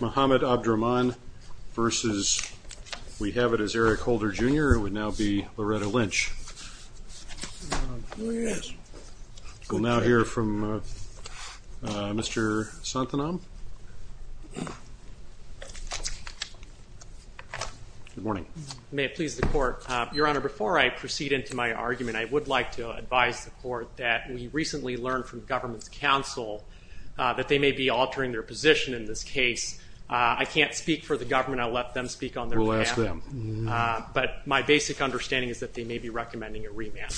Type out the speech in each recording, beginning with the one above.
Mohammed Abdraman versus, we have it as Eric Holder, Jr., it would now be Loretta Lynch. We'll now hear from Mr. Santanam. Good morning. May it please the Court. Your Honor, before I proceed into my argument, I would like to advise the Court that we recently learned from government's counsel that they may be altering their position in this case. I can't speak for the government, I'll let them speak on their behalf. We'll ask them. But my basic understanding is that they may be recommending a remand.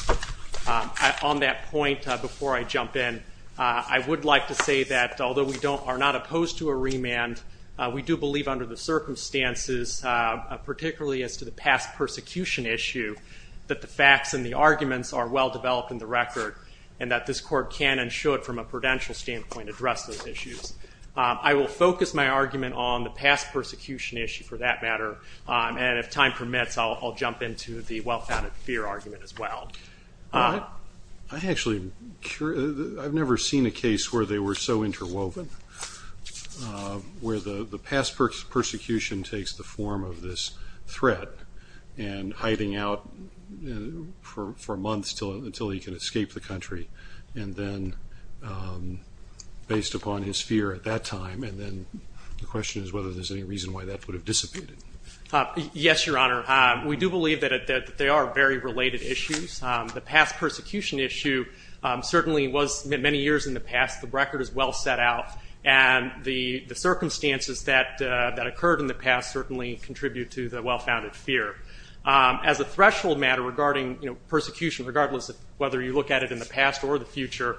On that point, before I jump in, I would like to say that although we are not opposed to a remand, we do believe under the circumstances, particularly as to the past persecution issue, that the facts and the arguments are well developed in the record and that this Court can and should, from a prudential standpoint, address those issues. I will focus my argument on the past persecution issue, for that matter, and if time permits, I'll jump into the well-founded fear argument as well. I actually, I've never seen a case where they were so interwoven, where the past persecution takes the form of this threat and hiding out for months until he can escape the country, and then based upon his fear at that time, and then the question is whether there's any reason why that would have dissipated. Yes, Your Honor. We do believe that they are very related issues. The past persecution issue certainly was many years in the past. The record is well set out, and the circumstances that occurred in the past certainly contribute to the well-founded fear. As a threshold matter regarding persecution, regardless of whether you look at it in the past or the future,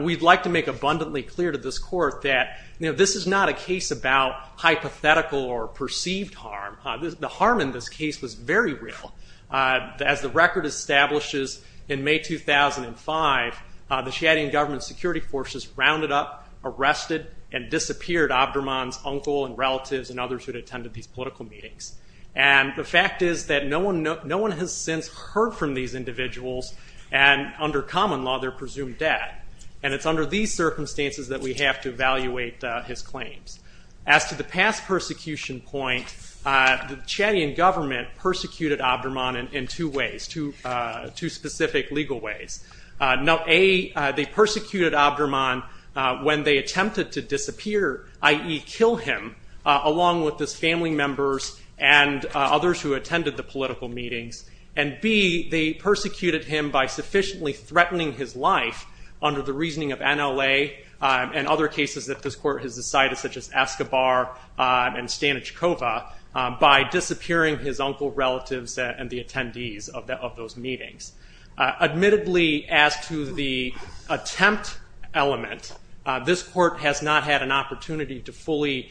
we'd like to make abundantly clear to this Court that this is not a case about hypothetical or perceived harm. The harm in this case was very real. As the record establishes, in May 2005, the Shiitean government security forces rounded up, arrested, and disappeared Abdurman's uncle and relatives and others who had attended these political meetings. The fact is that no one has since heard from these individuals, and under common law, they're presumed dead. It's under these circumstances that we have to evaluate his claims. As to the past persecution point, the Shiitean government persecuted Abdurman in two ways, two specific legal ways. A, they persecuted Abdurman when they attempted to disappear, i.e., kill him, along with his family members and others who attended the political meetings, and B, they persecuted him by sufficiently threatening his life under the reasoning of NLA and other cases that this Court has decided, such as Escobar and Stanichkova, by disappearing his uncle, relatives, and the attendees of those meetings. Admittedly, as to the attempt element, this Court has not had an opportunity to fully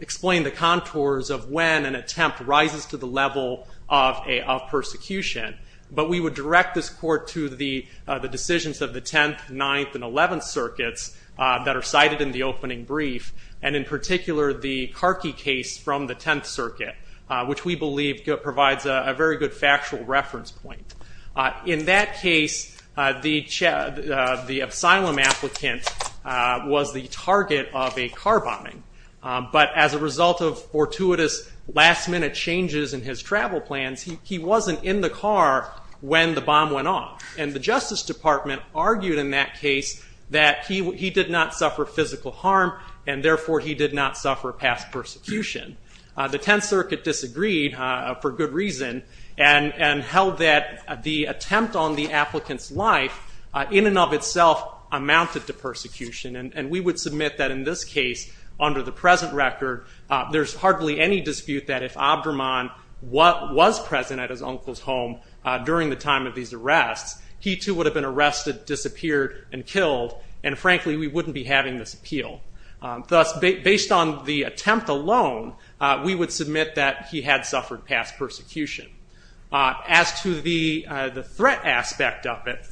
explain the contours of when an attempt rises to the level of persecution, but we would direct this Court to the decisions of the 10th, 9th, and 11th Circuits that are cited in the opening brief, and in particular the Karki case from the 10th Circuit, which we believe provides a very good factual reference point. In that case, the asylum applicant was the target of a car bombing, but as a result of fortuitous last-minute changes in his travel plans, he wasn't in the car when the bomb went off, and the Justice Department argued in that case that he did not suffer physical harm, and therefore he did not suffer past persecution. The 10th Circuit disagreed, for good reason, and held that the attempt on the applicant's life, in and of itself, amounted to persecution, and we would submit that in this case, under the present record, there's hardly any dispute that if Abdurman was present at his uncle's home during the time of these arrests, he too would have been arrested, disappeared, and killed, and frankly we wouldn't be having this appeal. Thus, based on the attempt alone, we would submit that he had suffered past persecution. As to the threat aspect of it,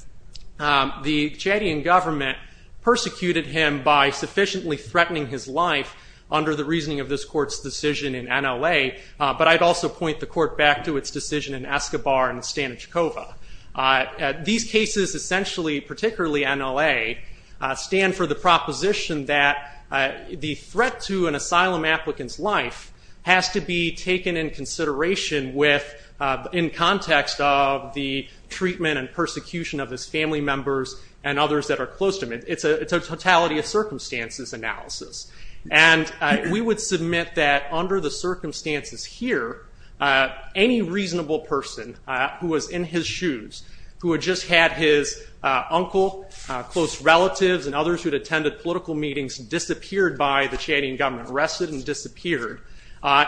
the Chadian government persecuted him by sufficiently threatening his life under the reasoning of this court's decision in NLA, but I'd also point the court back to its decision in Escobar and Stanichkova. These cases, essentially, particularly NLA, has to be taken into consideration in context of the treatment and persecution of his family members and others that are close to him. It's a totality of circumstances analysis, and we would submit that under the circumstances here, any reasonable person who was in his shoes, who had just had his uncle, close relatives, and others who had attended political meetings disappeared by the Chadian government, arrested and disappeared,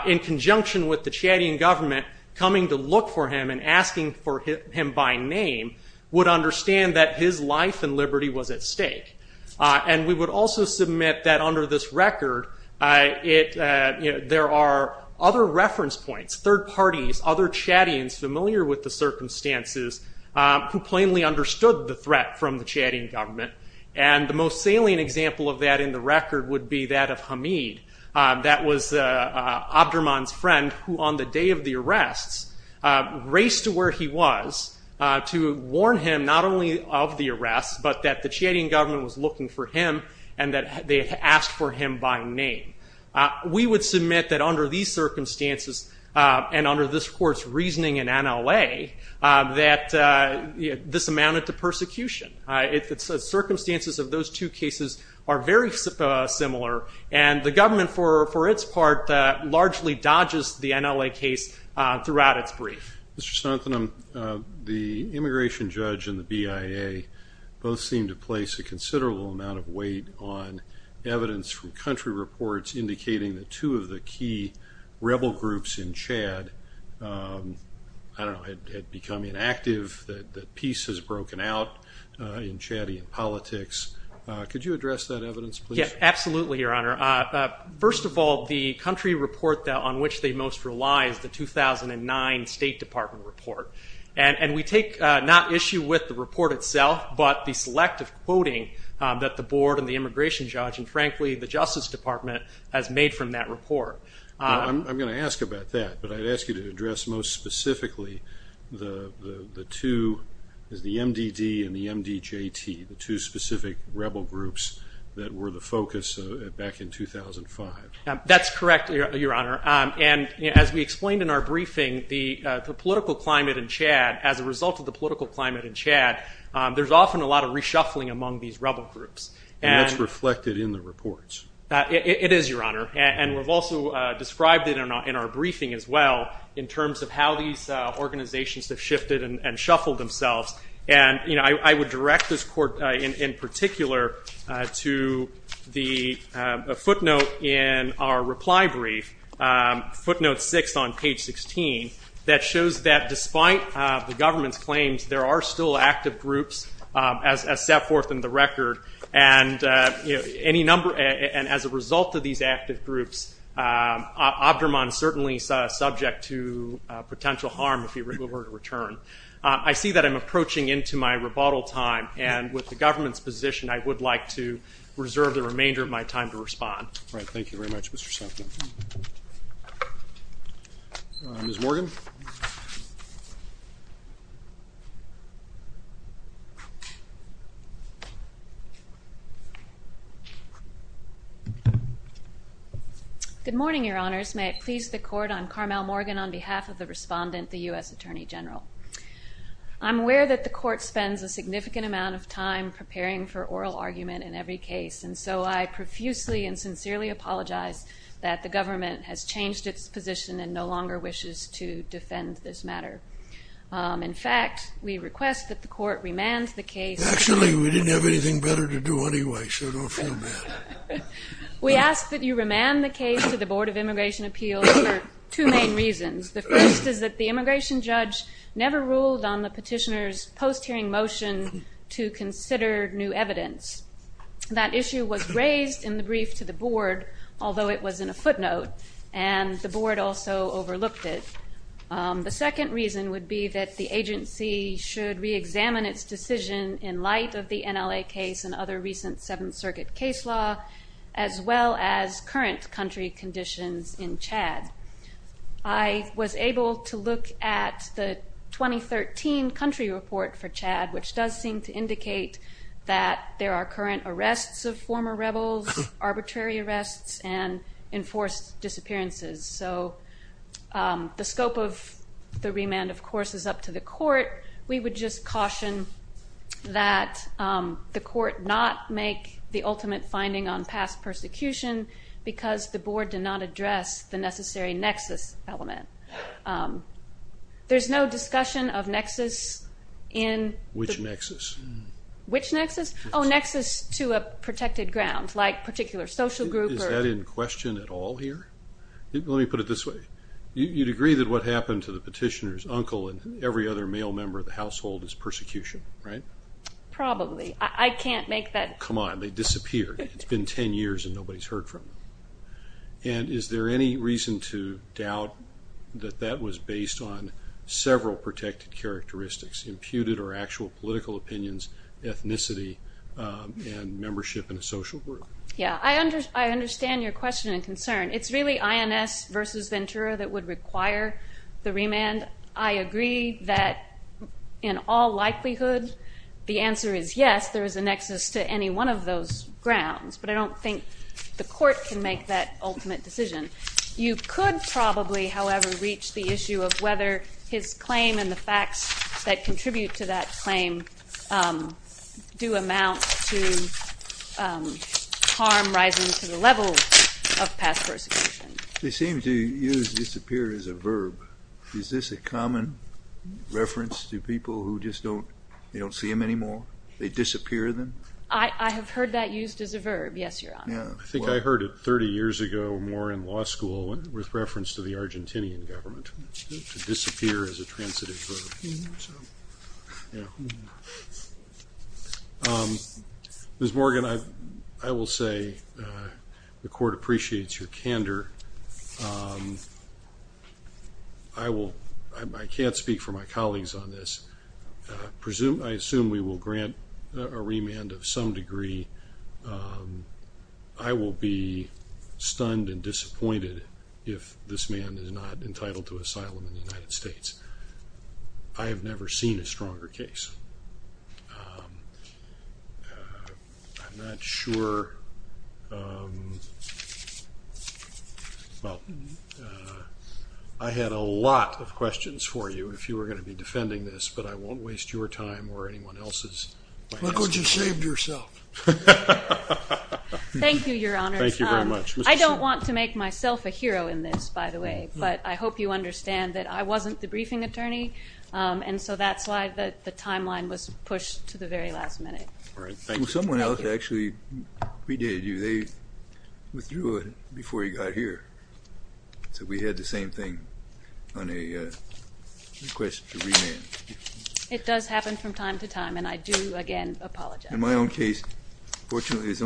in conjunction with the Chadian government coming to look for him and asking for him by name, would understand that his life and liberty was at stake. And we would also submit that under this record, there are other reference points, third parties, other Chadians familiar with the circumstances who plainly understood the threat from the Chadian government, and the most salient example of that in the record would be that of Hamid. That was Abdurman's friend, who on the day of the arrests raced to where he was to warn him not only of the arrests, but that the Chadian government was looking for him and that they had asked for him by name. We would submit that under these circumstances and under this court's reasoning in NLA, that this amounted to persecution. The circumstances of those two cases are very similar, and the government, for its part, largely dodges the NLA case throughout its brief. Mr. Snodden, the immigration judge and the BIA both seem to place a considerable amount of weight on evidence from country reports indicating that two of the key rebel groups in Chad had become inactive, that peace has broken out in Chadian politics. Could you address that evidence, please? Absolutely, Your Honor. First of all, the country report on which they most rely is the 2009 State Department report. We take not issue with the report itself, but the selective quoting that the board and the immigration judge and, frankly, the Justice Department has made from that report. I'm going to ask about that, but I'd ask you to address most specifically the two, the MDD and the MDJT, the two specific rebel groups that were the focus back in 2005. That's correct, Your Honor. As we explained in our briefing, the political climate in Chad, as a result of the political climate in Chad, there's often a lot of reshuffling among these rebel groups. And that's reflected in the reports. It is, Your Honor. And we've also described it in our briefing as well in terms of how these organizations have shifted and shuffled themselves. I would direct this court in particular to the footnote in our reply brief, footnote 6 on page 16, that shows that despite the government's claims, there are still active groups, as set forth in the record. And as a result of these active groups, Abdurman certainly is subject to potential harm if he were to return. I see that I'm approaching into my rebuttal time, and with the government's position, I would like to reserve the remainder of my time to respond. All right. Thank you very much, Mr. Sutton. Ms. Morgan? Good morning, Your Honors. May it please the court, I'm Carmel Morgan on behalf of the respondent, the U.S. Attorney General. I'm aware that the court spends a significant amount of time preparing for oral argument in every case, and so I profusely and sincerely apologize that the government has changed its position and no longer wishes to defend this matter. In fact, we request that the court remand the case... Actually, we didn't have anything better to do anyway, so don't feel bad. We ask that you remand the case to the Board of Immigration Appeals for two main reasons. The first is that the immigration judge never ruled on the petitioner's post-hearing motion to consider new evidence. That issue was raised in the brief to the board, although it was in a footnote, and the board also overlooked it. The second reason would be that the agency should reexamine its decision in light of the NLA case and other recent Seventh Circuit case law, as well as current country conditions in Chad. I was able to look at the 2013 country report for Chad, which does seem to indicate that there are current arrests of former rebels, arbitrary arrests, and enforced disappearances. So the scope of the remand, of course, is up to the court. We would just caution that the court not make the ultimate finding on past persecution because the board did not address the necessary nexus element. There's no discussion of nexus in... Which nexus? Which nexus? Oh, nexus to a protected ground, like a particular social group or... Is that in question at all here? Let me put it this way. You'd agree that what happened to the petitioner's uncle and every other male member of the household is persecution, right? Probably. I can't make that... Come on, they disappeared. It's been 10 years and nobody's heard from them. And is there any reason to doubt that that was based on several protected characteristics, imputed or actual political opinions, ethnicity, and membership in a social group? Yeah, I understand your question and concern. It's really INS versus Ventura that would require the remand. I agree that in all likelihood, the answer is yes, there is a nexus to any one of those grounds. But I don't think the court can make that ultimate decision. You could probably, however, reach the issue of whether his claim and the facts that contribute to that claim do amount to harm rising to the level of past persecution. They seem to use disappear as a verb. Is this a common reference to people who just don't see them anymore? They disappear then? I have heard that used as a verb. Yes, Your Honor. I think I heard it 30 years ago more in law school with reference to the Argentinian government. Disappear as a transitive verb. Ms. Morgan, I will say the court appreciates your candor. I can't speak for my colleagues on this. I assume we will grant a remand of some degree. I will be stunned and disappointed if this man is not entitled to asylum in the United States. I have never seen a stronger case. I had a lot of questions for you if you were going to be defending this, but I won't waste your time or anyone else's. Thank you, Your Honor. I don't want to make myself a hero in this, by the way, but I hope you understand that I wasn't the briefing attorney, and so that's why the timeline was pushed to the very last minute. It does happen from time to time, and I do, again, apologize. Thank you, Ms.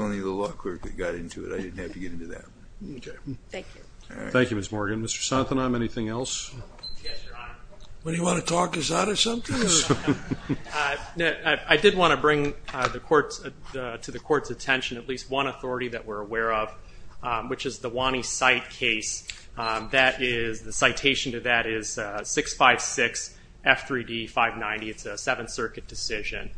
Morgan. Mr. Sontenheim, anything else? I did want to bring to the court's attention at least one authority that we're aware of, which is the Wani Site case. The citation to that is 656 F3D 590. It's a Seventh Circuit decision.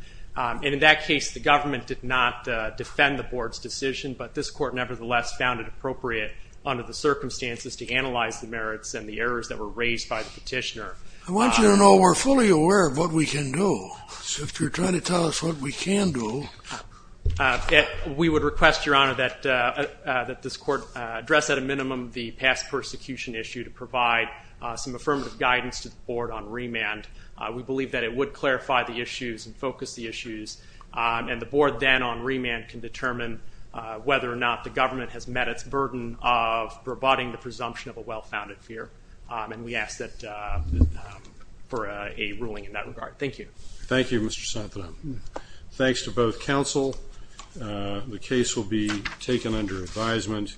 In that case, the government did not defend the board's decision, but this court nevertheless found it appropriate under the circumstances to analyze the merits and the errors that were raised by the petitioner. I want you to know we're fully aware of what we can do. If you're trying to tell us what we can do... We would request, Your Honor, that this court address at a minimum the past persecution issue to provide some affirmative guidance to the board on remand. We believe that it would clarify the issues and focus the issues, and the board then on remand can determine whether or not the government has met its burden of rebutting the presumption of a well-founded fear, and we ask for a ruling in that regard. Thank you. Thank you, Mr. Sontenheim. Thanks to both counsel. The case will be taken under advisement.